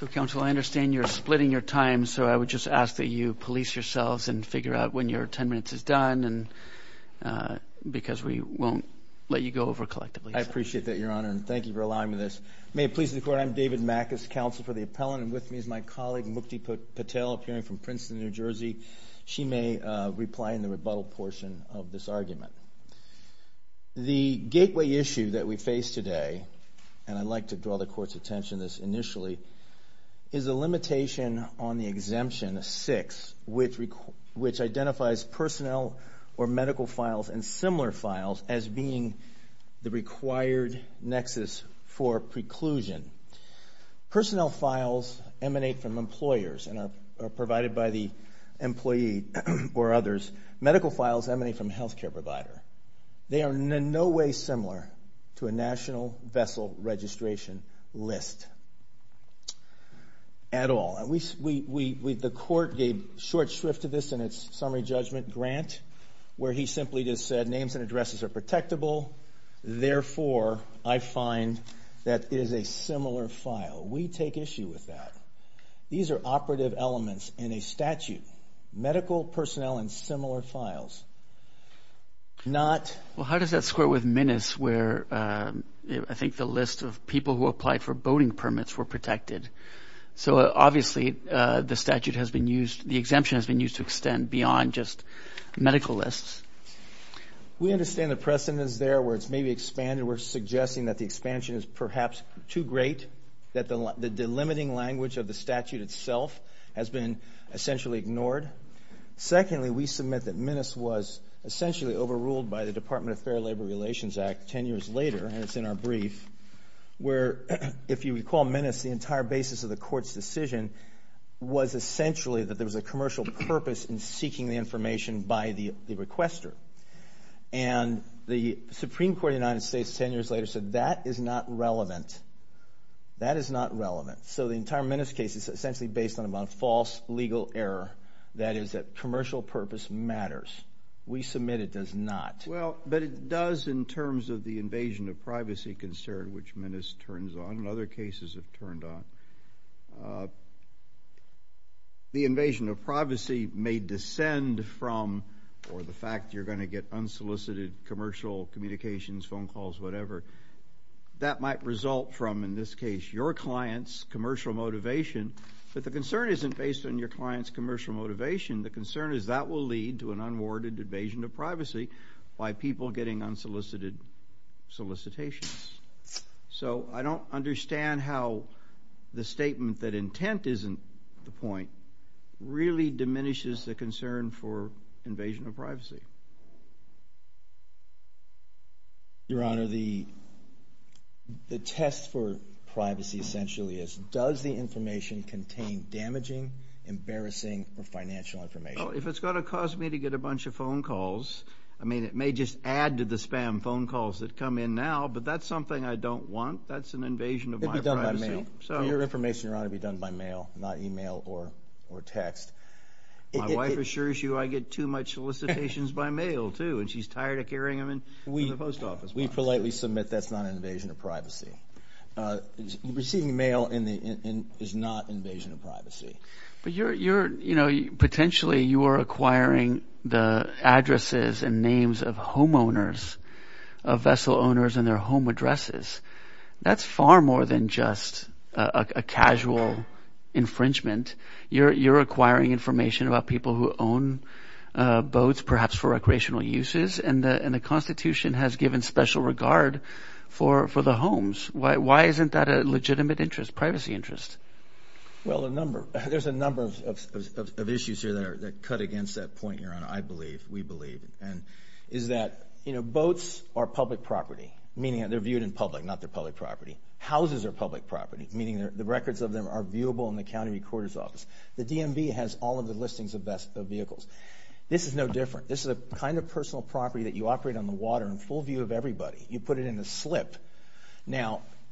So, Counsel, I understand you're splitting your time, so I would just ask that you police yourselves and figure out when your 10 minutes is done, because we won't let you go over collectively. I appreciate that, Your Honor, and thank you for allowing me this. May it please the Court, I'm David Mack, as Counsel for the Appellant, and with me is my colleague Mukti Patel, appearing from Princeton, New Jersey. She may reply in the rebuttal portion of this argument. The gateway issue that we face today, and I'd like to draw the Court's attention to this initially, is a limitation on the exemption 6, which identifies personnel or medical files and similar files as being the required nexus for preclusion. Personnel files emanate from employers and are provided by the employee or others. Medical files emanate from a health care provider. They are in no way similar to a national vessel registration list at all. The Court gave short shrift to this in its summary judgment grant, where he simply just said names and addresses are protectable, therefore, I find that it is a similar file. We take issue with that. These are operative elements in a statute. Medical personnel and similar files. Well, how does that square with Minis, where I think the list of people who applied for boating permits were protected? So obviously the statute has been used, the exemption has been used to extend beyond just medical lists. We understand the precedence there where it's maybe expanded. We're suggesting that the expansion is perhaps too great, that the delimiting language of the statute itself has been essentially ignored. Secondly, we submit that Minis was essentially overruled by the Department of Fair Labor Relations Act ten years later, and it's in our brief, where, if you recall Minis, the entire basis of the Court's decision was essentially that there was a commercial purpose in seeking the information by the requester. And the Supreme Court of the United States ten years later said that is not relevant. That is not relevant. So the entire Minis case is essentially based on a false legal error, that is that commercial purpose matters. We submit it does not. Well, but it does in terms of the invasion of privacy concern, which Minis turns on and other cases have turned on. The invasion of privacy may descend from, or the fact you're going to get unsolicited commercial communications, phone calls, whatever. That might result from, in this case, your client's commercial motivation, but the concern isn't based on your client's commercial motivation. The concern is that will lead to an unwarranted invasion of privacy by people getting unsolicited solicitations. So I don't understand how the statement that intent isn't the point really diminishes the concern for invasion of privacy. Your Honor, the test for privacy essentially is, does the information contain damaging, embarrassing, or financial information? Well, if it's going to cause me to get a bunch of phone calls, I mean it may just add to the spam phone calls that come in now, but that's something I don't want. That's an invasion of my privacy. It'd be done by mail. Your information, Your Honor, would be done by mail, not email or text. My wife assures you I get too much solicitations by mail too, and she's tired of carrying them through the post office. We politely submit that's not an invasion of privacy. Receiving mail is not an invasion of privacy. But you're, you know, potentially you are acquiring the addresses and names of homeowners, of vessel owners, and their home addresses. That's far more than just a casual infringement. You're acquiring information about people who own boats, perhaps for recreational uses, and the Constitution has given special regard for the homes. Why isn't that a legitimate interest, privacy interest? Well, there's a number of issues here that cut against that point, Your Honor, I believe, we believe, and is that, you know, boats are public property, meaning they're viewed in public, not they're public property. Houses are public property, meaning the records of them are viewable in the county recorder's office. The DMV has all of the listings of vehicles. This is no different. This is the kind of personal property that you operate on the water in full view of everybody. You put it in a slip.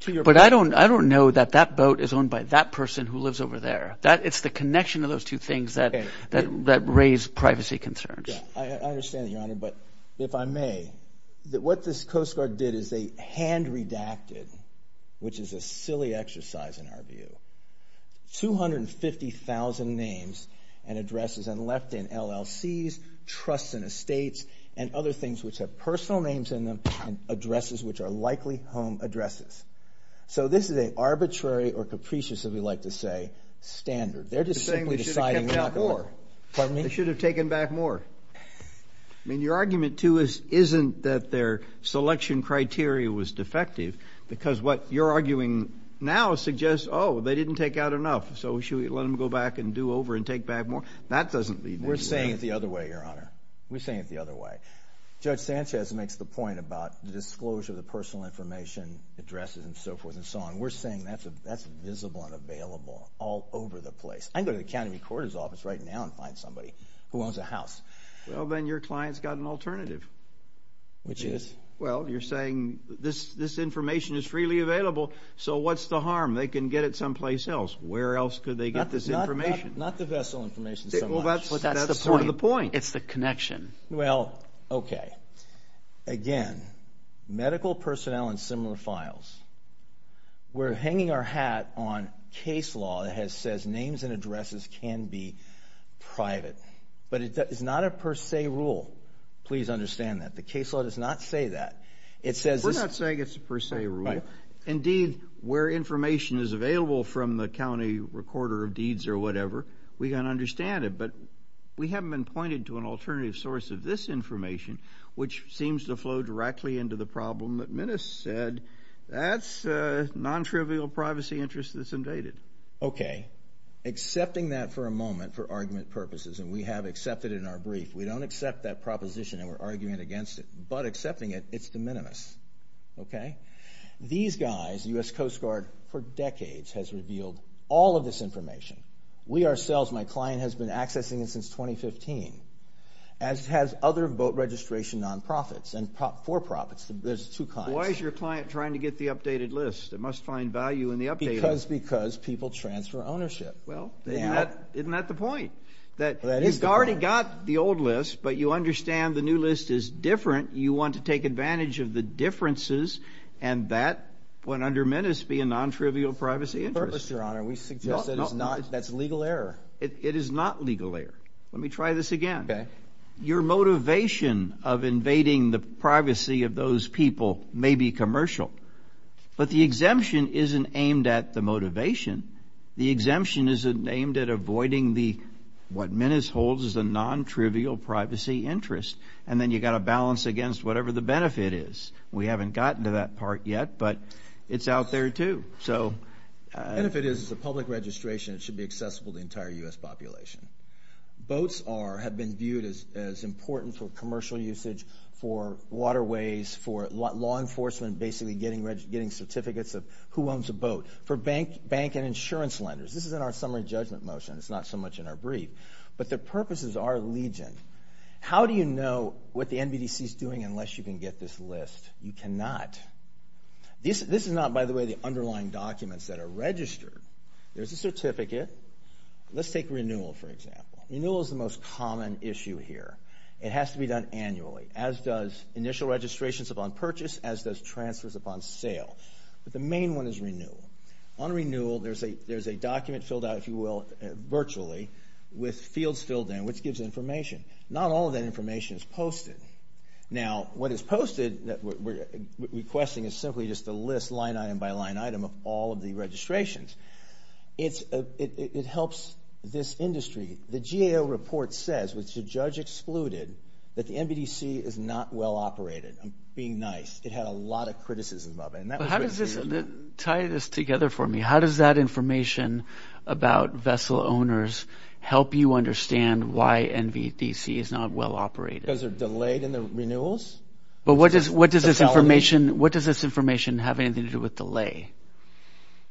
But I don't know that that boat is owned by that person who lives over there. It's the connection of those two things that raise privacy concerns. I understand that, Your Honor, but if I may, that what this Coast Guard did is they hand-redacted, which is a silly exercise in our view, 250,000 names and addresses and left in LLCs, trusts and estates, and other things which have personal names in them and addresses which are likely home addresses. So this is an arbitrary or capricious, as we like to say, standard. They're just simply deciding. They should have taken back more. Pardon me? They should have taken back more. I mean, your argument, too, isn't that their selection criteria was defective because what you're arguing now suggests, oh, they didn't take out enough, so should we let them go back and do over and take back more? That doesn't lead anywhere. We're saying it the other way, Your Honor. We're saying it the other way. Judge Sanchez makes the point about the disclosure of the personal information, addresses and so forth and so on. We're saying that's visible and available all over the place. I can go to the county recorder's office right now and find somebody who owns a house. Well, then your client's got an alternative. Which is? Well, you're saying this information is freely available, so what's the harm? They can get it someplace else. Where else could they get this information? Not the vessel information so much. Well, that's sort of the point. It's the connection. Well, okay. Again, medical personnel and similar files. We're hanging our hat on case law that says names and addresses can be private. But it's not a per se rule. Please understand that. The case law does not say that. We're not saying it's a per se rule. Indeed, where information is available from the county recorder of deeds or whatever, we can understand it. But we haven't been pointed to an alternative source of this information, which seems to flow directly into the problem that Minnis said. That's non-trivial privacy interest that's invaded. Okay. Accepting that for a moment for argument purposes, and we have accepted it in our brief. We don't accept that proposition, and we're arguing against it. But accepting it, it's de minimis. Okay? These guys, the U.S. Coast Guard, for decades has revealed all of this information. We ourselves, my client, has been accessing it since 2015. As has other boat registration non-profits and for-profits. There's two kinds. Why is your client trying to get the updated list? It must find value in the updated list. Because people transfer ownership. Well, isn't that the point? That you've already got the old list, but you understand the new list is different. You want to take advantage of the differences, and that, when under Minnis, would be a non-trivial privacy interest. No, no. That's legal error. It is not legal error. Let me try this again. Okay. Your motivation of invading the privacy of those people may be commercial, but the exemption isn't aimed at the motivation. The exemption isn't aimed at avoiding what Minnis holds as a non-trivial privacy interest. And then you've got to balance against whatever the benefit is. We haven't gotten to that part yet, but it's out there, too. The benefit is it's a public registration. It should be accessible to the entire U.S. population. Boats have been viewed as important for commercial usage, for waterways, for law enforcement basically getting certificates of who owns a boat, for bank and insurance lenders. This is in our summary judgment motion. It's not so much in our brief. But their purposes are legion. How do you know what the NBDC is doing unless you can get this list? You cannot. This is not, by the way, the underlying documents that are registered. There's a certificate. Let's take renewal, for example. Renewal is the most common issue here. It has to be done annually, as does initial registrations upon purchase, as does transfers upon sale. But the main one is renewal. On renewal, there's a document filled out, if you will, virtually with fields filled in, which gives information. Not all of that information is posted. Now, what is posted that we're requesting is simply just a list, line item by line item, of all of the registrations. It helps this industry. The GAO report says, which the judge excluded, that the NBDC is not well-operated. I'm being nice. It had a lot of criticism of it. Tie this together for me. How does that information about vessel owners help you understand why NBDC is not well-operated? Because they're delayed in the renewals. But what does this information have anything to do with delay?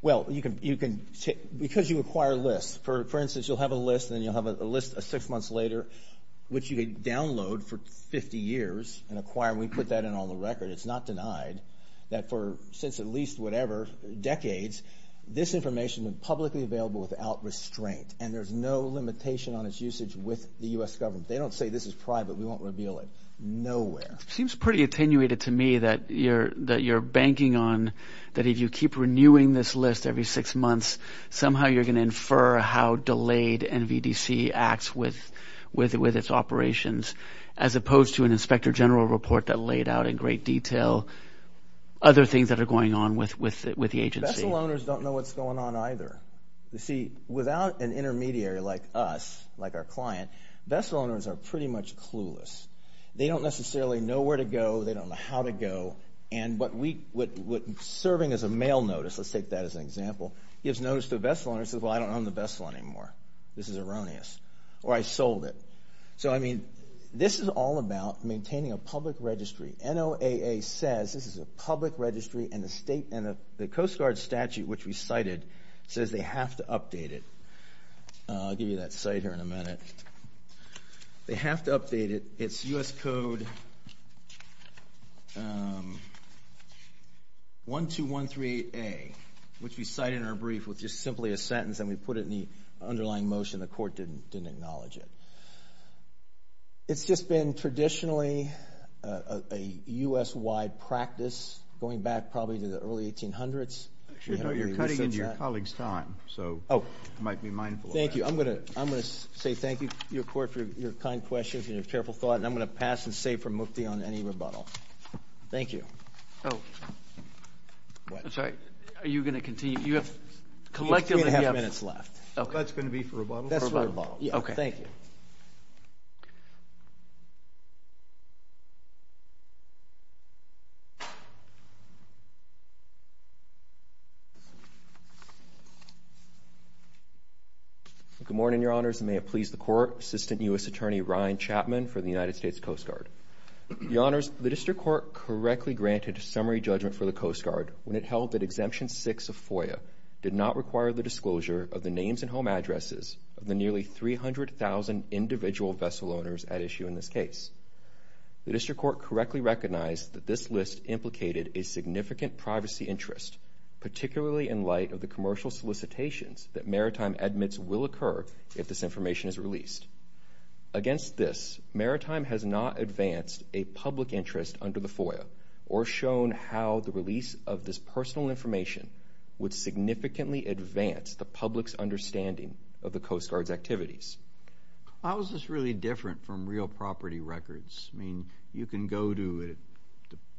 Well, because you acquire lists. For instance, you'll have a list, and then you'll have a list six months later, which you can download for 50 years and acquire. We put that in on the record. It's not denied that for at least whatever, decades, this information was publicly available without restraint, and there's no limitation on its usage with the U.S. government. They don't say this is private. We won't reveal it. Nowhere. It seems pretty attenuated to me that you're banking on that if you keep renewing this list every six months, somehow you're going to infer how delayed NBDC acts with its operations, as opposed to an inspector general report that laid out in great detail other things that are going on with the agency. Vessel owners don't know what's going on either. You see, without an intermediary like us, like our client, vessel owners are pretty much clueless. They don't necessarily know where to go. They don't know how to go, and what we're serving as a mail notice, let's take that as an example, gives notice to a vessel owner that says, well, I don't own the vessel anymore. This is erroneous, or I sold it. So, I mean, this is all about maintaining a public registry. NOAA says this is a public registry, and the Coast Guard statute, which we cited, says they have to update it. I'll give you that cite here in a minute. They have to update it. It's U.S. Code 1213A, which we cite in our brief with just simply a sentence, and we put it in the underlying motion. The court didn't acknowledge it. It's just been traditionally a U.S.-wide practice going back probably to the early 1800s. You're cutting into your colleague's time, so you might be mindful of that. Thank you. I'm going to say thank you, your court, for your kind questions and your careful thought, and I'm going to pass and save for Mukti on any rebuttal. Thank you. Oh. I'm sorry. Are you going to continue? You have collectively. Three and a half minutes left. That's going to be for rebuttal? That's for rebuttal. Okay. Thank you. Good morning, your honors, and may it please the court, Assistant U.S. Attorney Ryan Chapman for the United States Coast Guard. Your honors, the district court correctly granted summary judgment for the Coast Guard when it held that Exemption 6 of FOIA did not require the disclosure of the names and home addresses of the nearly 300,000 individual vessel owners at issue in this case. The district court correctly recognized that this list implicated a significant privacy interest, particularly in light of the commercial solicitations that Maritime admits will occur if this information is released. Against this, Maritime has not advanced a public interest under the FOIA or shown how the release of this personal information would significantly advance the public's understanding of the Coast Guard's activities. How is this really different from real property records? I mean, you can go to it.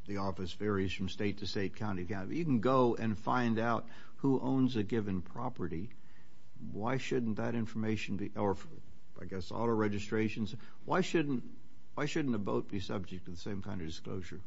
The office varies from state to state, county to county. You can go and find out who owns a given property. Why shouldn't that information be, or I guess auto registrations, why shouldn't a boat be subject to the same kind of disclosure?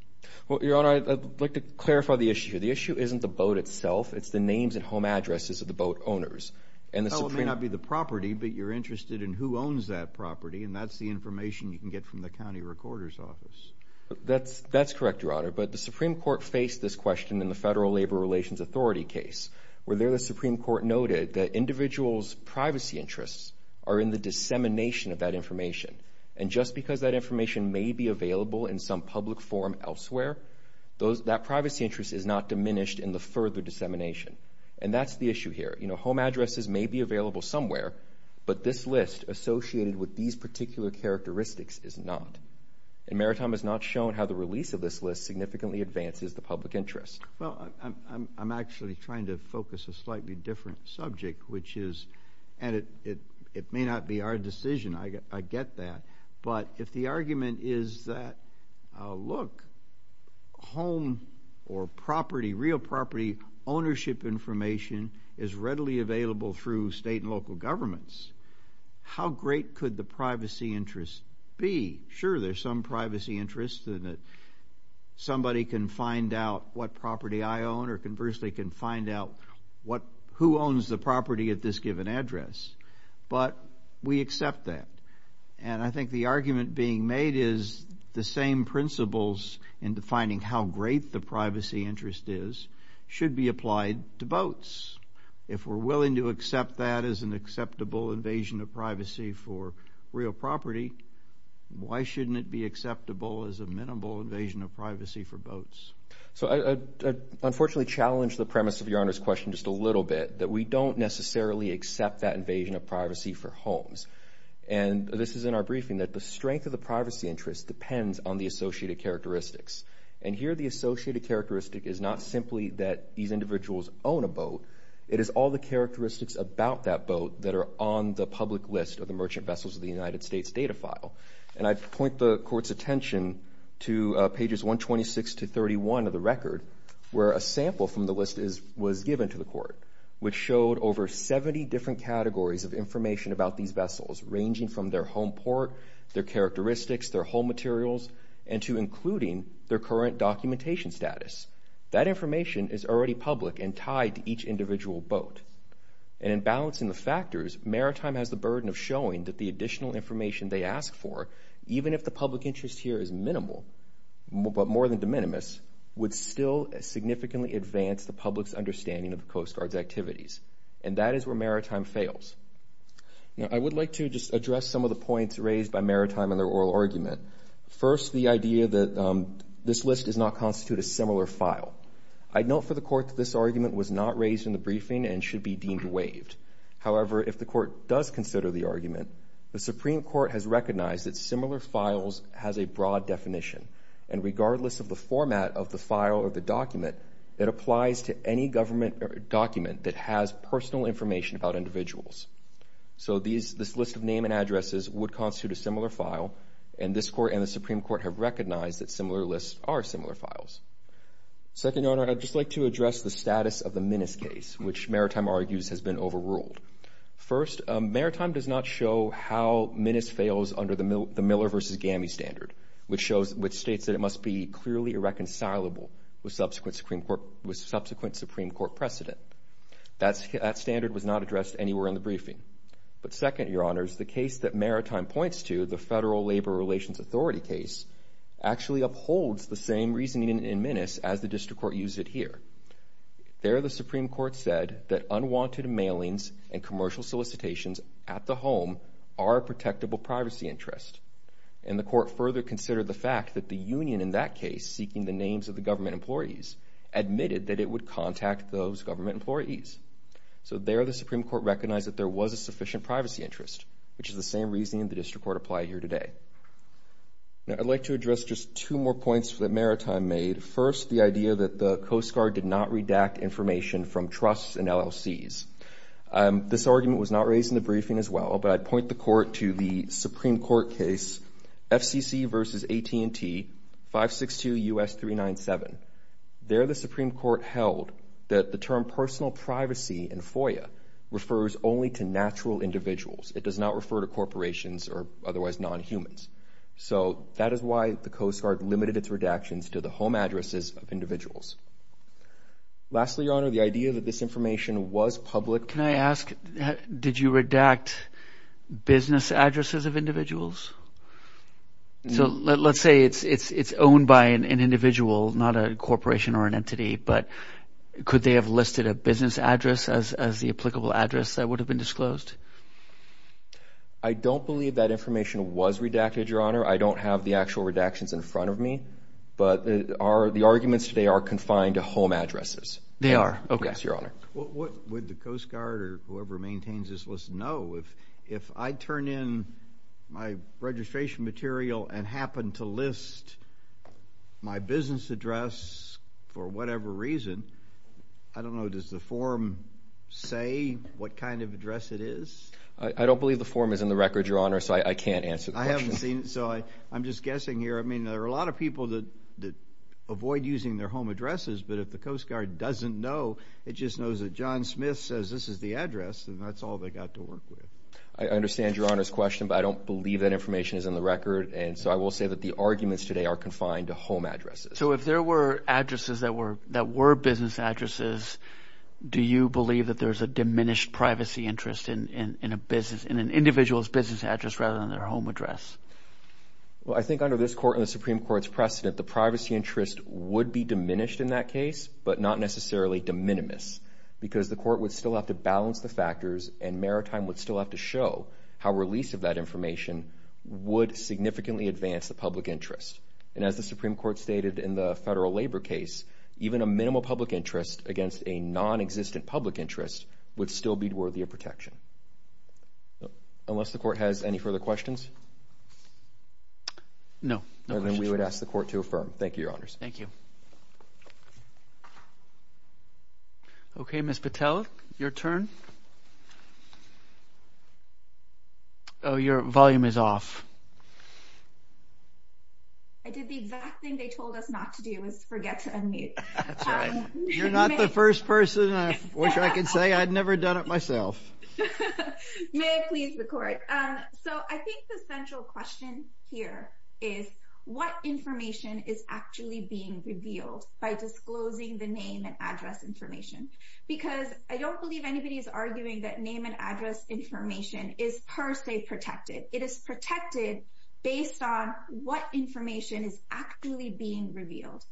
Well, your honor, I'd like to clarify the issue. The issue isn't the boat itself. It's the names and home addresses of the boat owners. It may not be the property, but you're interested in who owns that property, and that's the information you can get from the county recorder's office. That's correct, your honor. But the Supreme Court faced this question in the Federal Labor Relations Authority case where there the Supreme Court noted that individuals' privacy interests are in the dissemination of that information, and just because that information may be available in some public form elsewhere, that privacy interest is not diminished in the further dissemination, and that's the issue here. Home addresses may be available somewhere, but this list associated with these particular characteristics is not, and Maritime has not shown how the release of this list significantly advances the public interest. Well, I'm actually trying to focus a slightly different subject, which is, and it may not be our decision, I get that, but if the argument is that, look, home or property, real property, ownership information is readily available through state and local governments, how great could the privacy interest be? Sure, there's some privacy interest in that somebody can find out what property I own or conversely can find out who owns the property at this given address, but we accept that, and I think the argument being made is the same principles in defining how great the privacy interest is should be applied to boats. If we're willing to accept that as an acceptable invasion of privacy for real property, why shouldn't it be acceptable as a minimal invasion of privacy for boats? So I'd unfortunately challenge the premise of Your Honor's question just a little bit, that we don't necessarily accept that invasion of privacy for homes, and this is in our briefing, that the strength of the privacy interest depends on the associated characteristics, and here the associated characteristic is not simply that these individuals own a boat. It is all the characteristics about that boat that are on the public list of the merchant vessels of the United States data file, and I'd point the Court's attention to pages 126 to 31 of the record where a sample from the list was given to the Court, which showed over 70 different categories of information about these vessels, ranging from their home port, their characteristics, their home materials, and to including their current documentation status. That information is already public and tied to each individual boat, and in balancing the factors, Maritime has the burden of showing that the additional information they ask for, even if the public interest here is minimal, but more than de minimis, would still significantly advance the public's understanding of the Coast Guard's activities, and that is where Maritime fails. Now, I would like to just address some of the points raised by Maritime in their oral argument. First, the idea that this list does not constitute a similar file. I'd note for the Court that this argument was not raised in the briefing and should be deemed waived. However, if the Court does consider the argument, the Supreme Court has recognized that similar files has a broad definition, and regardless of the format of the file or the document, it applies to any government document that has personal information about individuals. So this list of name and addresses would constitute a similar file, and this Court and the Supreme Court have recognized that similar lists are similar files. Second, Your Honor, I'd just like to address the status of the Minis case, which Maritime argues has been overruled. First, Maritime does not show how Minis fails under the Miller v. Gammie standard, which states that it must be clearly irreconcilable with subsequent Supreme Court precedent. That standard was not addressed anywhere in the briefing. But second, Your Honors, the case that Maritime points to, the Federal Labor Relations Authority case, actually upholds the same reasoning in Minis as the District Court used it here. There, the Supreme Court said that unwanted mailings and commercial solicitations at the home are a protectable privacy interest, and the Court further considered the fact that the union in that case, seeking the names of the government employees, admitted that it would contact those government employees. So there, the Supreme Court recognized that there was a sufficient privacy interest, which is the same reasoning the District Court applied here today. Now, I'd like to address just two more points that Maritime made. First, the idea that the Coast Guard did not redact information from trusts and LLCs. This argument was not raised in the briefing as well, but I'd point the Court to the Supreme Court case FCC v. AT&T, 562 U.S. 397. There, the Supreme Court held that the term personal privacy in FOIA refers only to natural individuals. It does not refer to corporations or otherwise nonhumans. So that is why the Coast Guard limited its redactions to the home addresses of individuals. Lastly, Your Honor, the idea that this information was public. Can I ask, did you redact business addresses of individuals? So let's say it's owned by an individual, not a corporation or an entity, but could they have listed a business address as the applicable address that would have been disclosed? I don't believe that information was redacted, Your Honor. I don't have the actual redactions in front of me, but the arguments today are confined to home addresses. They are? Okay. Yes, Your Honor. What would the Coast Guard or whoever maintains this list know? If I turn in my registration material and happen to list my business address for whatever reason, I don't know, does the form say what kind of address it is? I don't believe the form is in the record, Your Honor, so I can't answer the question. I haven't seen it, so I'm just guessing here. I mean, there are a lot of people that avoid using their home addresses, but if the Coast Guard doesn't know, it just knows that John Smith says this is the address, and that's all they've got to work with. I understand Your Honor's question, but I don't believe that information is in the record, and so I will say that the arguments today are confined to home addresses. So if there were addresses that were business addresses, do you believe that there's a diminished privacy interest in an individual's business address rather than their home address? Well, I think under this Court and the Supreme Court's precedent, the privacy interest would be diminished in that case, but not necessarily de minimis, because the Court would still have to balance the factors, and Maritime would still have to show how release of that information would significantly advance the public interest. And as the Supreme Court stated in the federal labor case, even a minimal public interest against a non-existent public interest would still be worthy of protection. Unless the Court has any further questions? No. Then we would ask the Court to affirm. Thank you, Your Honors. Thank you. Okay, Ms. Patel, your turn. Oh, your volume is off. I did the exact thing they told us not to do is forget to unmute. That's right. You're not the first person I wish I could say. I'd never done it myself. May it please the Court. I think the central question here is what information is actually being revealed by disclosing the name and address information? Because I don't believe anybody is arguing that name and address information is per se protected. It is protected based on what information is actually being revealed.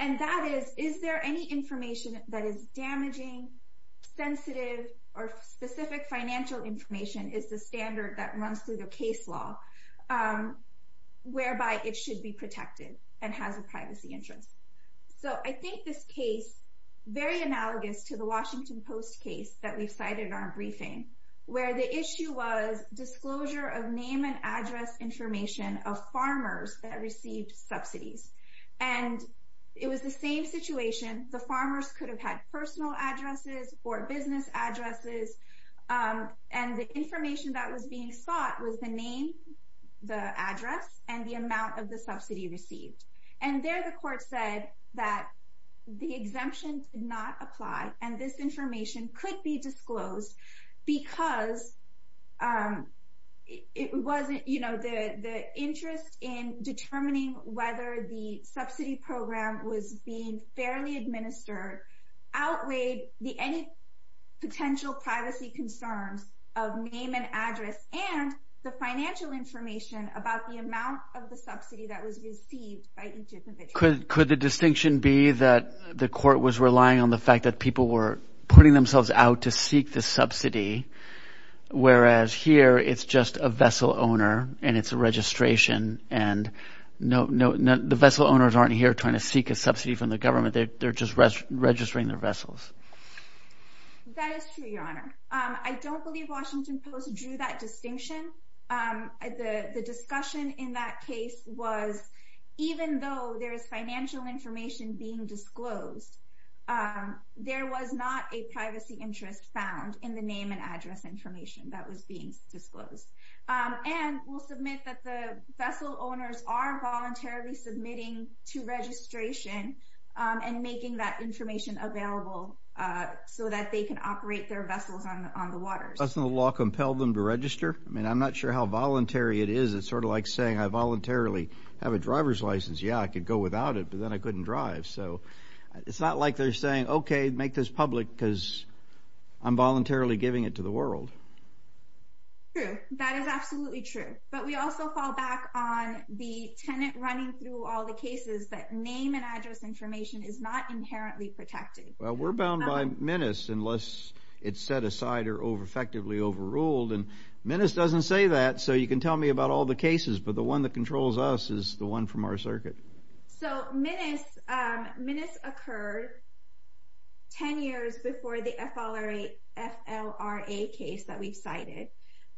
And that is, is there any information that is damaging, sensitive, or specific financial information is the standard that runs through the case law whereby it should be protected and has a privacy interest? So I think this case, very analogous to the Washington Post case that we've cited in our briefing, where the issue was disclosure of name and address information of farmers that received subsidies. And it was the same situation. The farmers could have had personal addresses or business addresses. And the information that was being sought was the name, the address, and the amount of the subsidy received. And there the Court said that the exemption did not apply, and this information could be disclosed because it wasn't, you know, the interest in determining whether the subsidy program was being fairly administered outweighed any potential privacy concerns of name and address and the financial information about the amount of the subsidy that was received by each individual. Could the distinction be that the Court was relying on the fact that people were putting themselves out to seek the subsidy, whereas here it's just a vessel owner and it's a registration and the vessel owners aren't here trying to seek a subsidy from the government. They're just registering their vessels. That is true, Your Honor. I don't believe Washington Post drew that distinction. The discussion in that case was even though there is financial information being disclosed, there was not a privacy interest found in the name and address information that was being disclosed. And we'll submit that the vessel owners are voluntarily submitting to registration and making that information available so that they can operate their vessels on the water. Doesn't the law compel them to register? I mean, I'm not sure how voluntary it is. It's sort of like saying I voluntarily have a driver's license. Yeah, I could go without it, but then I couldn't drive. So it's not like they're saying, okay, make this public because I'm voluntarily giving it to the world. True, that is absolutely true. But we also fall back on the tenant running through all the cases that name and address information is not inherently protected. Well, we're bound by menace unless it's set aside or effectively overruled. And menace doesn't say that, so you can tell me about all the cases, but the one that controls us is the one from our circuit. So menace occurred 10 years before the FLRA case that we've cited.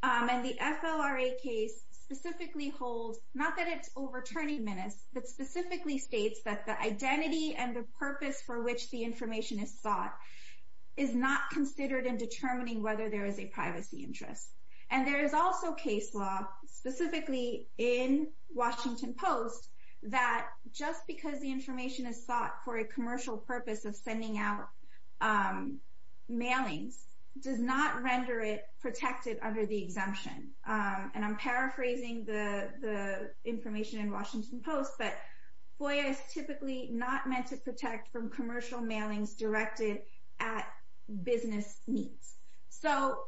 And the FLRA case specifically holds, not that it's overturning menace, but specifically states that the identity and the purpose for which the information is sought is not considered in determining whether there is a privacy interest. And there is also case law, specifically in Washington Post, that just because the information is sought for a commercial purpose of sending out mailings does not render it protected under the exemption. And I'm paraphrasing the information in Washington Post, but FOIA is typically not meant to protect from commercial mailings directed at business needs. So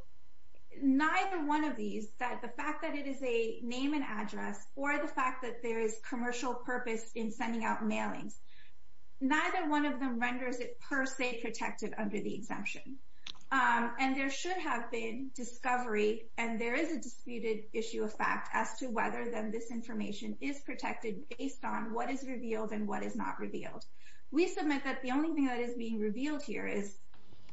neither one of these, the fact that it is a name and address or the fact that there is commercial purpose in sending out mailings, neither one of them renders it per se protected under the exemption. And there should have been discovery, and there is a disputed issue of fact, as to whether then this information is protected based on what is revealed and what is not revealed. We submit that the only thing that is being revealed here is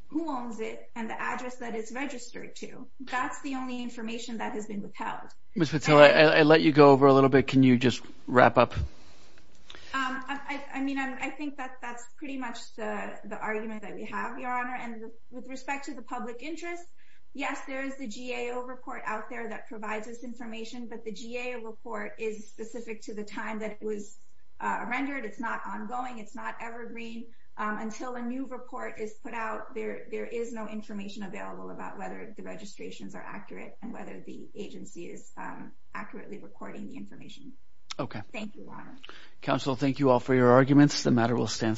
who owns it and the address that it's registered to. That's the only information that has been withheld. Mr. Patel, I let you go over a little bit. Can you just wrap up? I mean, I think that that's pretty much the argument that we have, Your Honor. And with respect to the public interest, yes, there is the GAO report out there that provides this information, but the GAO report is specific to the time that it was rendered. It's not ongoing. It's not evergreen. Until a new report is put out, there is no information available about whether the registrations are accurate and whether the agency is accurately recording the information. Okay. Thank you, Your Honor. Counsel, thank you all for your arguments. The matter will stand submitted.